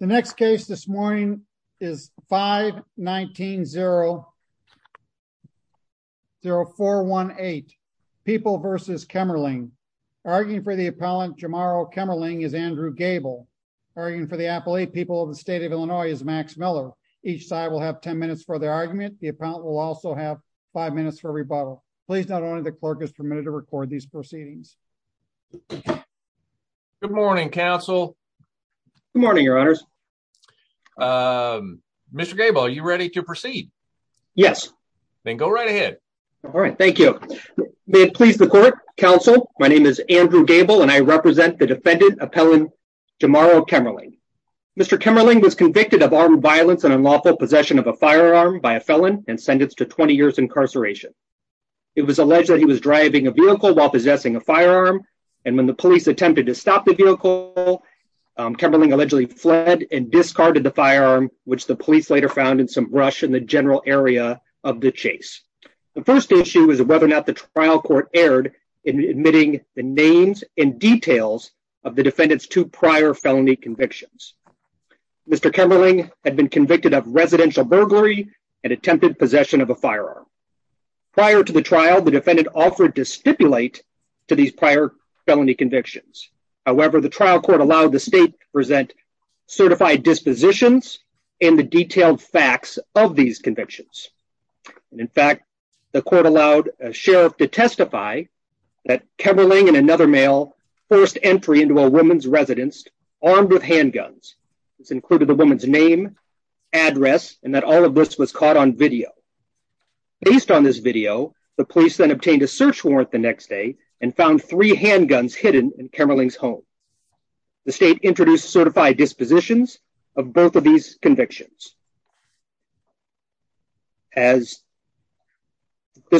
The next case this morning is 519-0418. People versus Kemmerling. Arguing for the appellant Jamaro Kemmerling is Andrew Gable. Arguing for the appellate people of the state of Illinois is Max Miller. Each side will have 10 minutes for their argument. The appellant will also have five minutes for rebuttal. Please note only the clerk is permitted to record these proceedings. Andrew Gable Good morning, counsel. Max Miller Good morning, your honors. Andrew Gable Mr. Gable, are you ready to proceed? Max Miller Yes. Andrew Gable Then go right ahead. Max Miller All right, thank you. May it please the court, counsel, my name is Andrew Gable and I represent the defendant, appellant Jamaro Kemmerling. Mr. Kemmerling was convicted of armed violence and unlawful possession of a firearm by a felon and sentenced to 20 years incarceration. It was alleged that he was driving a vehicle while possessing a firearm and when the police attempted to stop the vehicle, Kemmerling allegedly fled and discarded the firearm, which the police later found in some brush in the general area of the chase. The first issue is whether or not the trial court erred in admitting the names and details of the defendant's two prior felony convictions. Mr. Kemmerling had been convicted of residential burglary and attempted possession of a firearm. Prior to the trial, the defendant offered to stipulate to these prior felony convictions. However, the trial court allowed the state to present certified dispositions and the detailed facts of these convictions. In fact, the court allowed a sheriff to testify that Kemmerling and another male forced entry into a woman's residence armed with handguns. This included the woman's name, address, and that all of this was caught on video. Based on this video, the police then obtained a search warrant the next day and found three handguns hidden in Kemmerling's home. The state introduced certified dispositions of both of these convictions. This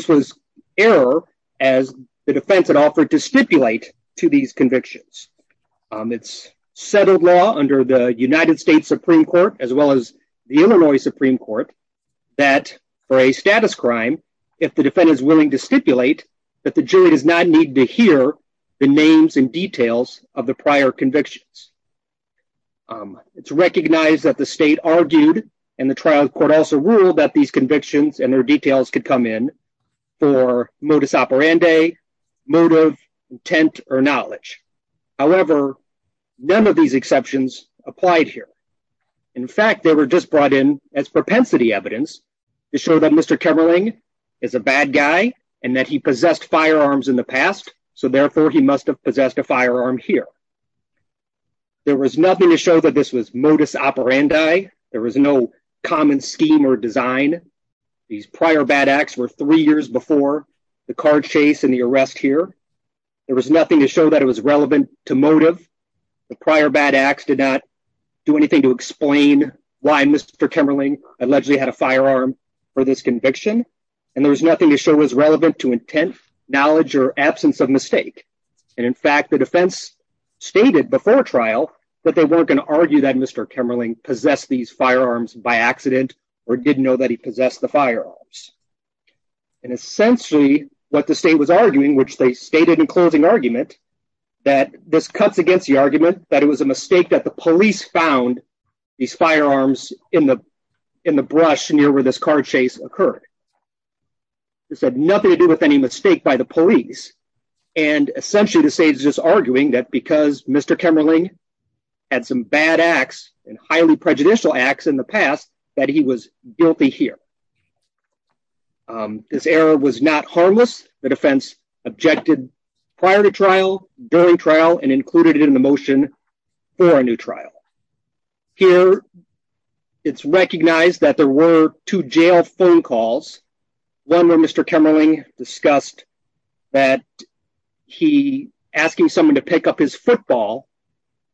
was error as the defense had offered to stipulate to these convictions. It's settled law under the United States Supreme Court as well as the Illinois Supreme Court that for a status crime, if the defendant is willing to stipulate that the jury does not need to hear the names and details of the prior convictions. It's recognized that the state argued and the trial court also ruled that these convictions and their details could come in for modus operandi, motive, intent, or knowledge. However, none of these exceptions applied here. In fact, they were just brought in as propensity evidence to show that Mr. Kemmerling is a bad guy and that he possessed firearms in the past, so therefore he must have possessed a firearm here. There was nothing to show that this was modus operandi. There was no common scheme or design. These prior bad acts were three years before the car chase and the arrest here. There was nothing to show that it was relevant to motive. The prior bad acts did not do anything to explain why Mr. Kemmerling allegedly had a firearm for this conviction and there was nothing to show was relevant to intent, knowledge, or absence of mistake. In fact, the defense stated before trial that they weren't going to argue that Mr. Kemmerling possessed these firearms by accident or didn't know that he possessed the firearms. And essentially what the state was arguing, which they stated in closing argument, that this cuts against the argument that it was a mistake that the police found these firearms in the brush near where this car chase occurred. This had nothing to do with any mistake by the police and essentially the state is just arguing that because Mr. Kemmerling had some bad acts and highly prejudicial acts in the past that he was guilty here. This error was not harmless. The defense objected prior to trial, during trial, and included it in the motion for a new trial. Here it's recognized that there were two jail phone calls. One where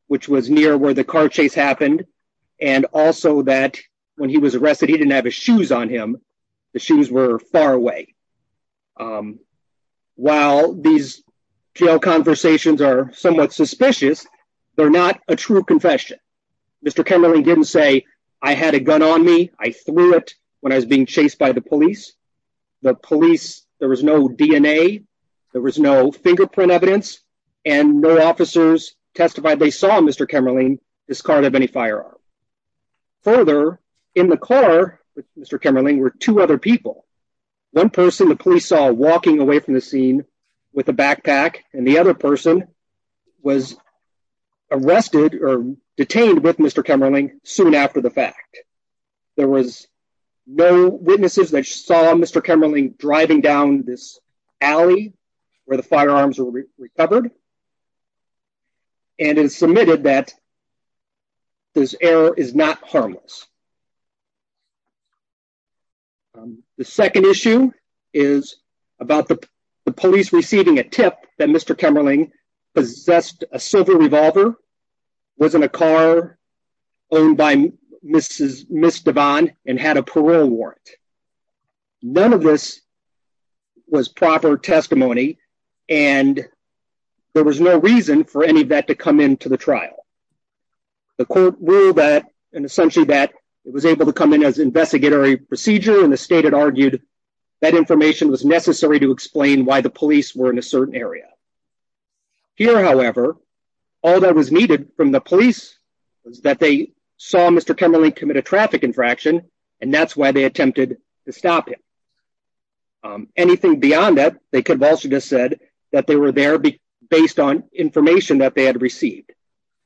which was near where the car chase happened and also that when he was arrested he didn't have his shoes on him. The shoes were far away. While these jail conversations are somewhat suspicious, they're not a true confession. Mr. Kemmerling didn't say I had a gun on me, I threw it when I was being chased by the police. The police, there was no DNA, there was no fingerprint evidence, and no officers testified they saw Mr. Kemmerling discard of any firearm. Further, in the car with Mr. Kemmerling were two other people. One person the police saw walking away from the scene with a backpack and the other person was arrested or detained with Mr. Kemmerling soon after the fact. There was no witnesses that saw Mr. Kemmerling driving down this alley where firearms were recovered and it is submitted that this error is not harmless. The second issue is about the police receiving a tip that Mr. Kemmerling possessed a silver revolver, was in a car owned by Mrs. DeVon, and had a parole warrant. None of this was proper testimony and there was no reason for any of that to come into the trial. The court ruled that and essentially that it was able to come in as investigatory procedure and the state had argued that information was necessary to explain why the police were in a certain area. Here, however, all that was needed from the police was that they saw Mr. Kemmerling commit a traffic infraction and that's why they attempted to stop him. Anything beyond that, they could have also just said that they were there based on information that they had received.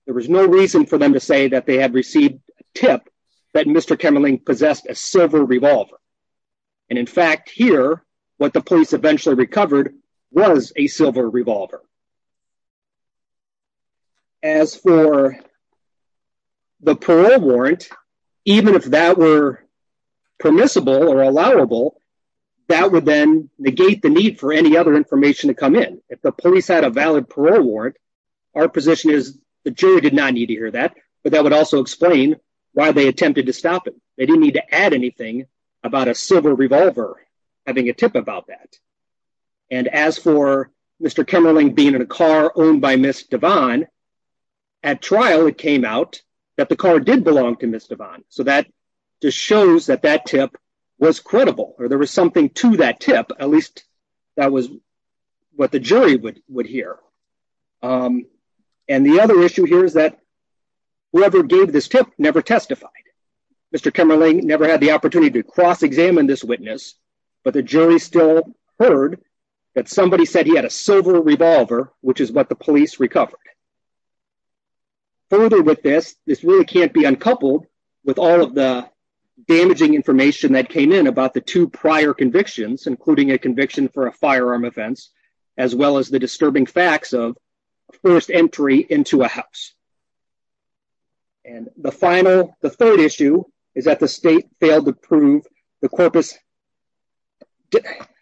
There was no reason for them to say that they had received a tip that Mr. Kemmerling possessed a silver revolver and in fact here what the police eventually recovered was a silver revolver. As for the parole warrant, even if that were permissible or allowable, that would then negate the need for any other information to come in. If the police had a valid parole warrant, our position is the jury did not need to hear that, but that would also explain why they attempted to stop him. They didn't need to add anything about a silver revolver having a tip about that. As for Mr. Kemmerling being in a car owned by Ms. Devon, at trial it came out that the car did belong to Ms. Devon, so that just shows that that tip was credible or there was something to that tip, at least that was what the jury would hear. The other issue here is that whoever gave this tip never testified. Mr. Kemmerling never had the opportunity to cross-examine this tip, but the jury still heard that somebody said he had a silver revolver, which is what the police recovered. Further with this, this really can't be uncoupled with all of the damaging information that came in about the two prior convictions, including a conviction for a firearm offense, as well as the disturbing facts of first entry into a house. And the final, the third issue is that the state failed to prove the corpus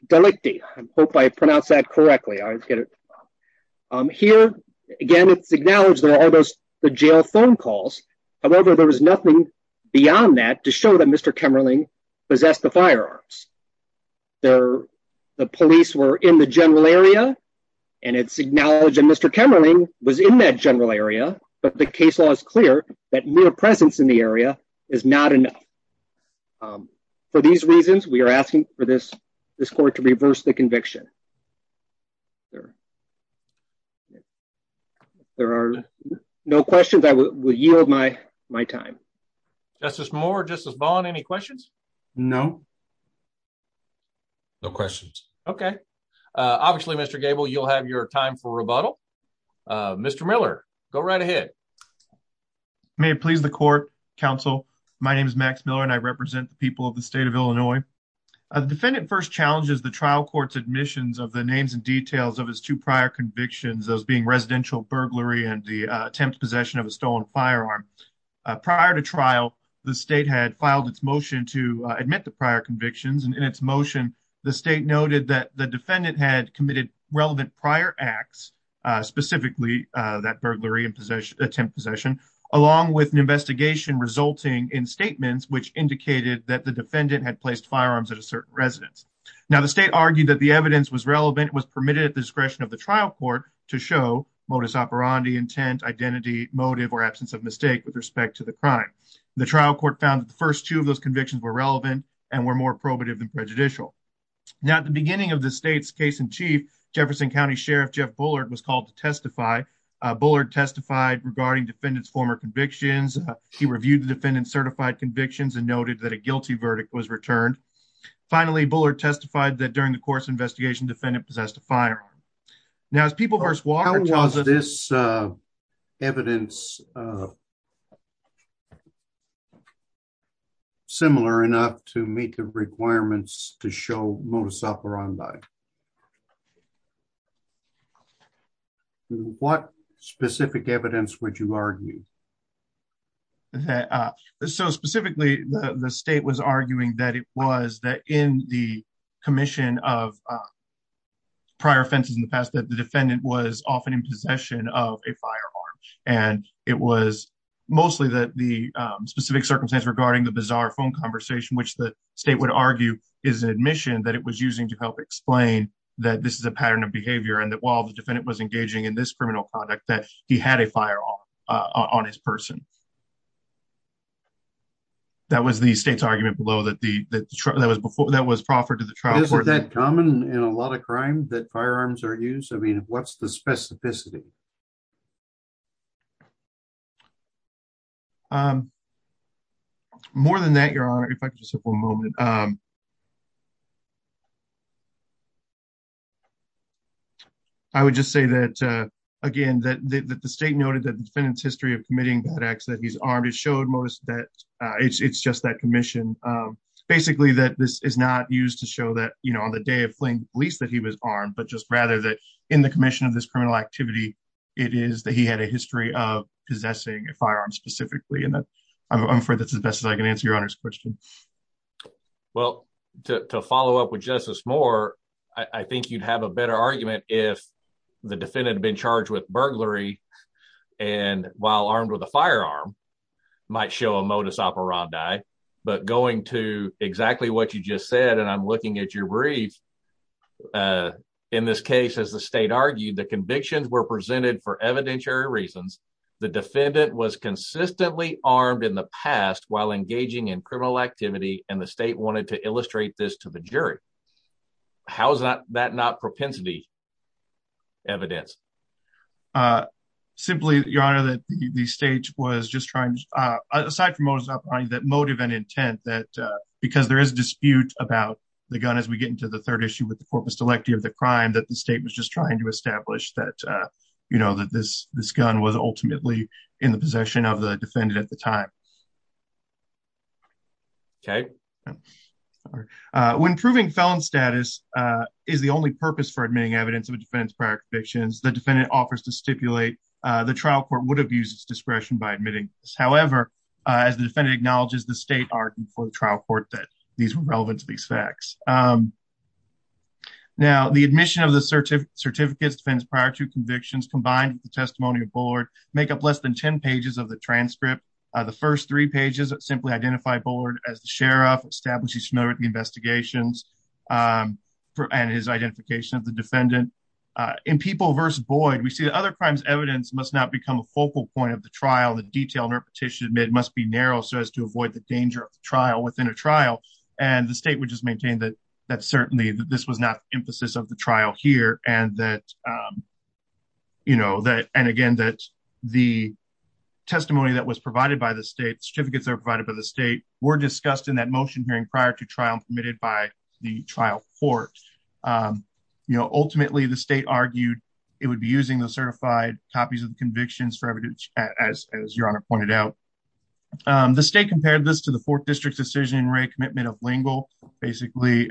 delicti. I hope I pronounced that correctly. Here again, it's acknowledged there are those the jail phone calls. However, there was nothing beyond that to show that Mr. Kemmerling possessed the firearms. The police were in the general area and it's acknowledged that Mr. Kemmerling was in that general area, but the case law is clear that presence in the area is not enough. For these reasons, we are asking for this court to reverse the conviction. There are no questions. I will yield my time. Justice Moore, Justice Bond, any questions? No. No questions. Okay. Obviously, Mr. Gable, you'll have your time for rebuttal. Mr. Miller, go right ahead. May it please the court, counsel. My name is Max Miller and I represent the people of the state of Illinois. The defendant first challenges the trial court's admissions of the names and details of his two prior convictions, those being residential burglary and the attempt possession of a stolen firearm. Prior to trial, the state had filed its motion to admit the prior convictions and in its motion, the state noted that the defendant had relevant prior acts, specifically that burglary and attempt possession, along with an investigation resulting in statements which indicated that the defendant had placed firearms at a certain residence. Now, the state argued that the evidence was relevant, was permitted at the discretion of the trial court to show modus operandi, intent, identity, motive, or absence of mistake with respect to the crime. The trial court found that the first two of those convictions were relevant and were more probative than prejudicial. Now, at the beginning of the state's case in chief, Jefferson County Sheriff Jeff Bullard was called to testify. Bullard testified regarding defendant's former convictions. He reviewed the defendant's certified convictions and noted that a guilty verdict was returned. Finally, Bullard testified that during the course of the investigation, the defendant possessed a firearm. Now, as People v. Walker tells us... How was this evidence uh... similar enough to meet the requirements to show modus operandi? What specific evidence would you argue? So, specifically, the state was arguing that it was that in the commission of prior offenses in possession of a firearm and it was mostly that the specific circumstance regarding the bizarre phone conversation which the state would argue is an admission that it was using to help explain that this is a pattern of behavior and that while the defendant was engaging in this criminal conduct that he had a firearm on his person. That was the state's argument below that the that was proffered to the trial court. Isn't that common in a lot of crime that firearms are used? What's the specificity? More than that, your honor, if I could just have one moment. I would just say that again that the state noted that the defendant's history of committing bad acts that he's armed has showed most that it's just that commission. Basically, that this is used to show that on the day of fleeing the police that he was armed but just rather that in the commission of this criminal activity, it is that he had a history of possessing a firearm specifically. I'm afraid that's as best as I can answer your honor's question. Well, to follow up with Justice Moore, I think you'd have a better argument if the defendant had been charged with burglary and while armed with a firearm might show a modus operandi. But going to exactly what you just said and I'm looking at your brief, in this case, as the state argued, the convictions were presented for evidentiary reasons. The defendant was consistently armed in the past while engaging in criminal activity and the state wanted to illustrate this to the jury. How is that not propensity evidence? Simply, your honor, that the state was just trying to, aside from modus operandi, that motive and intent that because there is a dispute about the gun as we get into the third issue with the corpus delecti of the crime that the state was just trying to establish that, you know, that this gun was ultimately in the possession of the defendant at the time. Okay. When proving felon status is the only purpose for admitting evidence of a defendant's prior convictions, the defendant offers to stipulate the trial court would have used its discretion by admitting this. However, as the defendant acknowledges, the state argued for the trial court that these were relevant to these facts. Now, the admission of the certificates defendants prior to convictions combined with the testimony of Bullard make up less than 10 pages of the transcript. The first three pages simply identify Bullard as the sheriff, establishes familiarity investigations, and his identification of the defendant. In People v. Boyd, we see that other crimes evidence must not become a focal point of the trial. The detailed repetition must be narrow so as to avoid the danger of the trial within a trial, and the state would just maintain that certainly this was not the emphasis of the trial here and that, you know, that, and again, that the testimony that was provided by the state, certificates that were provided by the state, were discussed in that motion hearing prior to trial committed by the trial court. You know, ultimately, the state argued it would be using the certified copies of the convictions for evidence, as your honor pointed out. The state compared this to the fourth district's decision rate commitment of Lingle. Basically,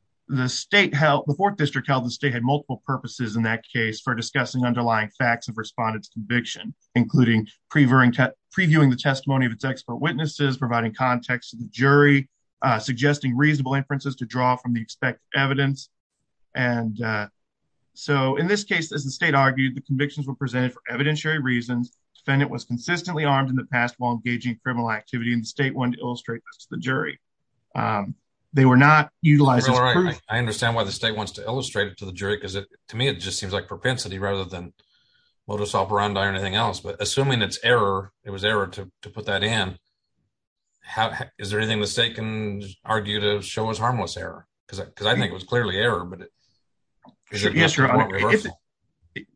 the state held, the fourth district held the state had multiple purposes in that case for discussing underlying facts of respondents conviction, including previewing the testimony of its expert witnesses, providing context to the jury, suggesting reasonable inferences to draw from the expected evidence, and so in this case, as the state argued, the convictions were presented for evidentiary reasons. Defendant was consistently armed in the past while engaging in criminal activity, and the state wanted to illustrate this to the jury. They were not utilized as proof. I understand why the state wants to illustrate it to the jury, because it, to me, it just seems like propensity rather than anything else, but assuming it's error, it was error to put that in, is there anything the state can argue to show as harmless error? Because I think it was clearly error, but it is.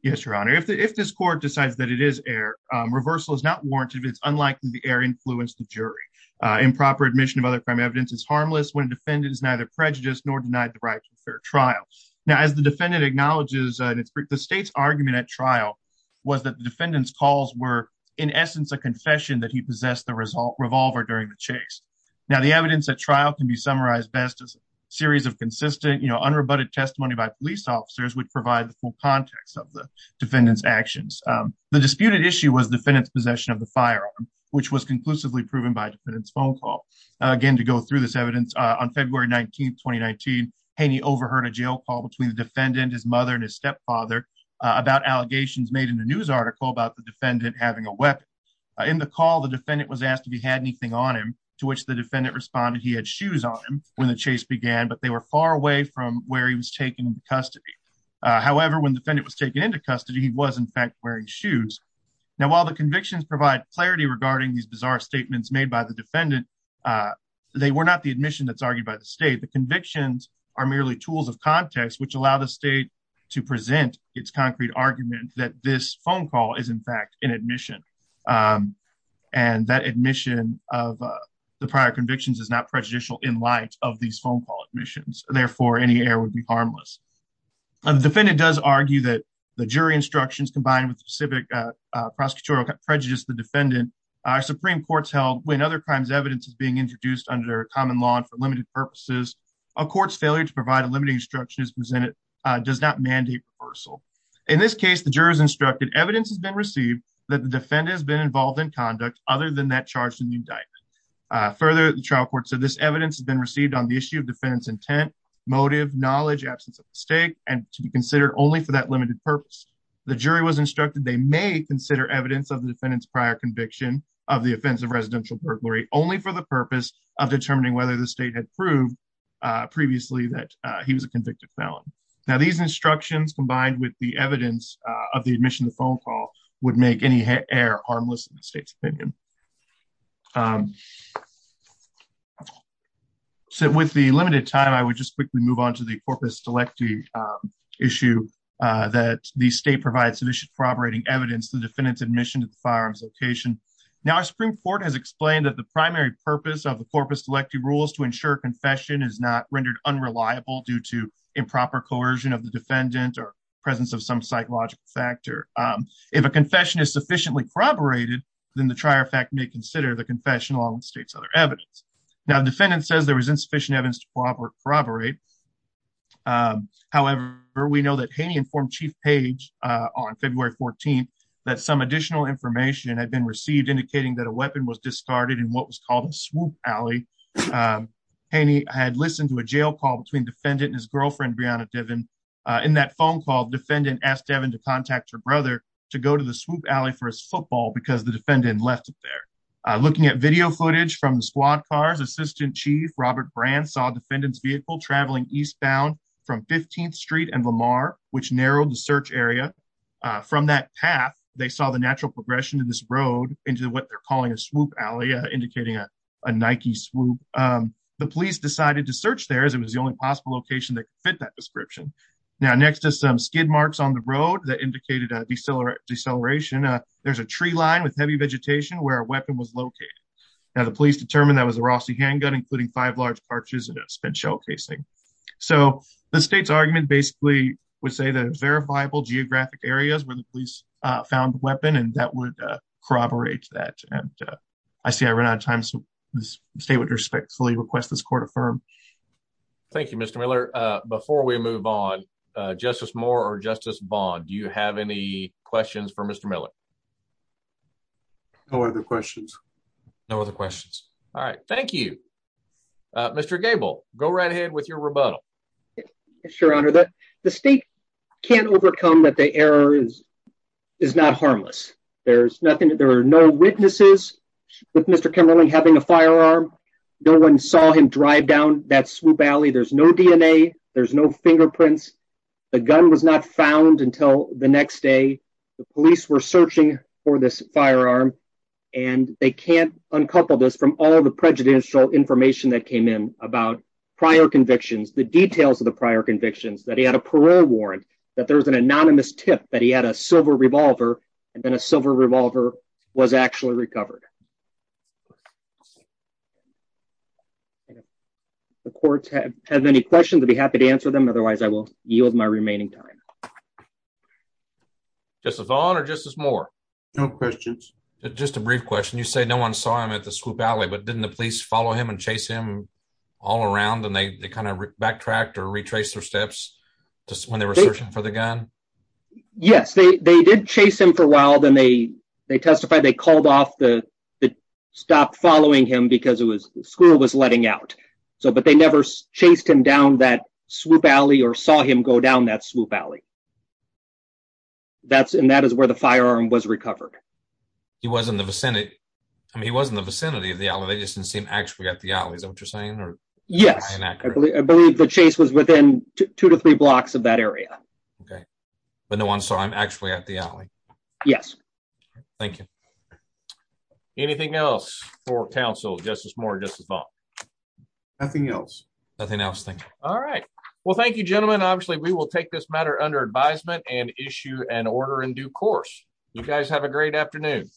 Yes, your honor, if this court decides that it is error, reversal is not warranted. It's unlikely the error influenced the jury. Improper admission of other crime evidence is harmless when defendant is neither prejudiced nor denied the right to fair trial. Now, as the defendant acknowledges, the state's argument at trial was that the defendant's calls were, in essence, a confession that he possessed the revolver during the chase. Now, the evidence at trial can be summarized best as a series of consistent, you know, unrebutted testimony by police officers would provide the full context of the defendant's actions. The disputed issue was defendant's possession of the firearm, which was conclusively proven by defendant's phone call. Again, to go through this evidence, on February 19, 2019, Haney overheard a jail call between the defendant, his mother, and his stepfather about allegations made in a news article about the defendant having a weapon. In the call, the defendant was asked if he had anything on him, to which the defendant responded he had shoes on him when the chase began, but they were far away from where he was taking custody. However, when defendant was taken into custody, he was, in fact, wearing shoes. Now, while the convictions provide clarity regarding these bizarre statements made by the defendant, they were not the admission that's argued by the state. The convictions are merely tools of context which allow the state to present its concrete argument that this phone call is, in fact, an admission, and that admission of the prior convictions is not prejudicial in light of these phone call admissions. Therefore, any error would be harmless. The defendant does argue that the jury instructions combined with the specific prosecutorial prejudice of the defendant are Supreme Courts held when other crimes evidence is being introduced under common law and for limited instruction is presented does not mandate reversal. In this case, the jurors instructed evidence has been received that the defendant has been involved in conduct other than that charged in the indictment. Further, the trial court said this evidence has been received on the issue of defendant's intent, motive, knowledge, absence of mistake, and to be considered only for that limited purpose. The jury was instructed they may consider evidence of the defendant's prior conviction of the offense of residential burglary only for the purpose of determining whether the convicted felon. Now, these instructions combined with the evidence of the admission of the phone call would make any error harmless in the state's opinion. So, with the limited time, I would just quickly move on to the corpus delecti issue that the state provides sufficient corroborating evidence the defendant's admission to the firearms location. Now, our Supreme Court has explained that the primary purpose of the corpus delecti rules to ensure confession is not rendered unreliable due to improper coercion of the defendant or presence of some psychological factor. If a confession is sufficiently corroborated, then the trier fact may consider the confession along with state's other evidence. Now, the defendant says there was insufficient evidence to corroborate. However, we know that Haney informed Chief Page on February 14th that some additional information had been received indicating that a weapon was discarded in what was called a swoop alley. Haney had listened to a jail call between defendant and his girlfriend Breonna Devon. In that phone call, defendant asked Devon to contact her brother to go to the swoop alley for his football because the defendant left it there. Looking at video footage from the squad cars, Assistant Chief Robert Brand saw defendant's vehicle traveling eastbound from 15th Street and Lamar, which narrowed the search area. From that path, they saw the natural progression of this swoop. The police decided to search there as it was the only possible location that could fit that description. Now, next to some skid marks on the road that indicated a deceleration, there's a tree line with heavy vegetation where a weapon was located. Now, the police determined that was a Rossi handgun, including five large parches and a spent shell casing. So, the state's argument basically would say that it was verifiable geographic areas where the police found the state would respectfully request this court affirm. Thank you, Mr. Miller. Before we move on, Justice Moore or Justice Bond, do you have any questions for Mr. Miller? No other questions. No other questions. All right. Thank you. Mr. Gable, go right ahead with your rebuttal. Yes, your honor. The state can't overcome that the error is not harmless. There's no witnesses with Mr. Kimmerling having a firearm. No one saw him drive down that swoop alley. There's no DNA. There's no fingerprints. The gun was not found until the next day. The police were searching for this firearm, and they can't uncouple this from all the prejudicial information that came in about prior convictions, the details of the prior convictions, that he had a parole warrant, that there was an anonymous tip that he had a silver revolver, and then a silver revolver was actually recovered. The courts have any questions, I'd be happy to answer them. Otherwise, I will yield my remaining time. Justice Bond or Justice Moore? No questions. Just a brief question. You say no one saw him at the swoop alley, but didn't the police follow him and chase him all around, and they kind of backtracked or retraced their steps when they were searching for the gun? Yes, they did chase him for a while, then they testified they called off the stop following him because school was letting out. But they never chased him down that swoop alley or saw him go down that swoop alley. And that is where the firearm was recovered. He was in the vicinity of the alley. They just didn't the chase was within two to three blocks of that area. Okay, but no one saw him actually at the alley. Yes. Thank you. Anything else for counsel, Justice Moore, Justice Bond? Nothing else. Nothing else. Thank you. All right. Well, thank you, gentlemen. Obviously, we will take this matter under advisement and issue an order in due course. You guys have a great afternoon.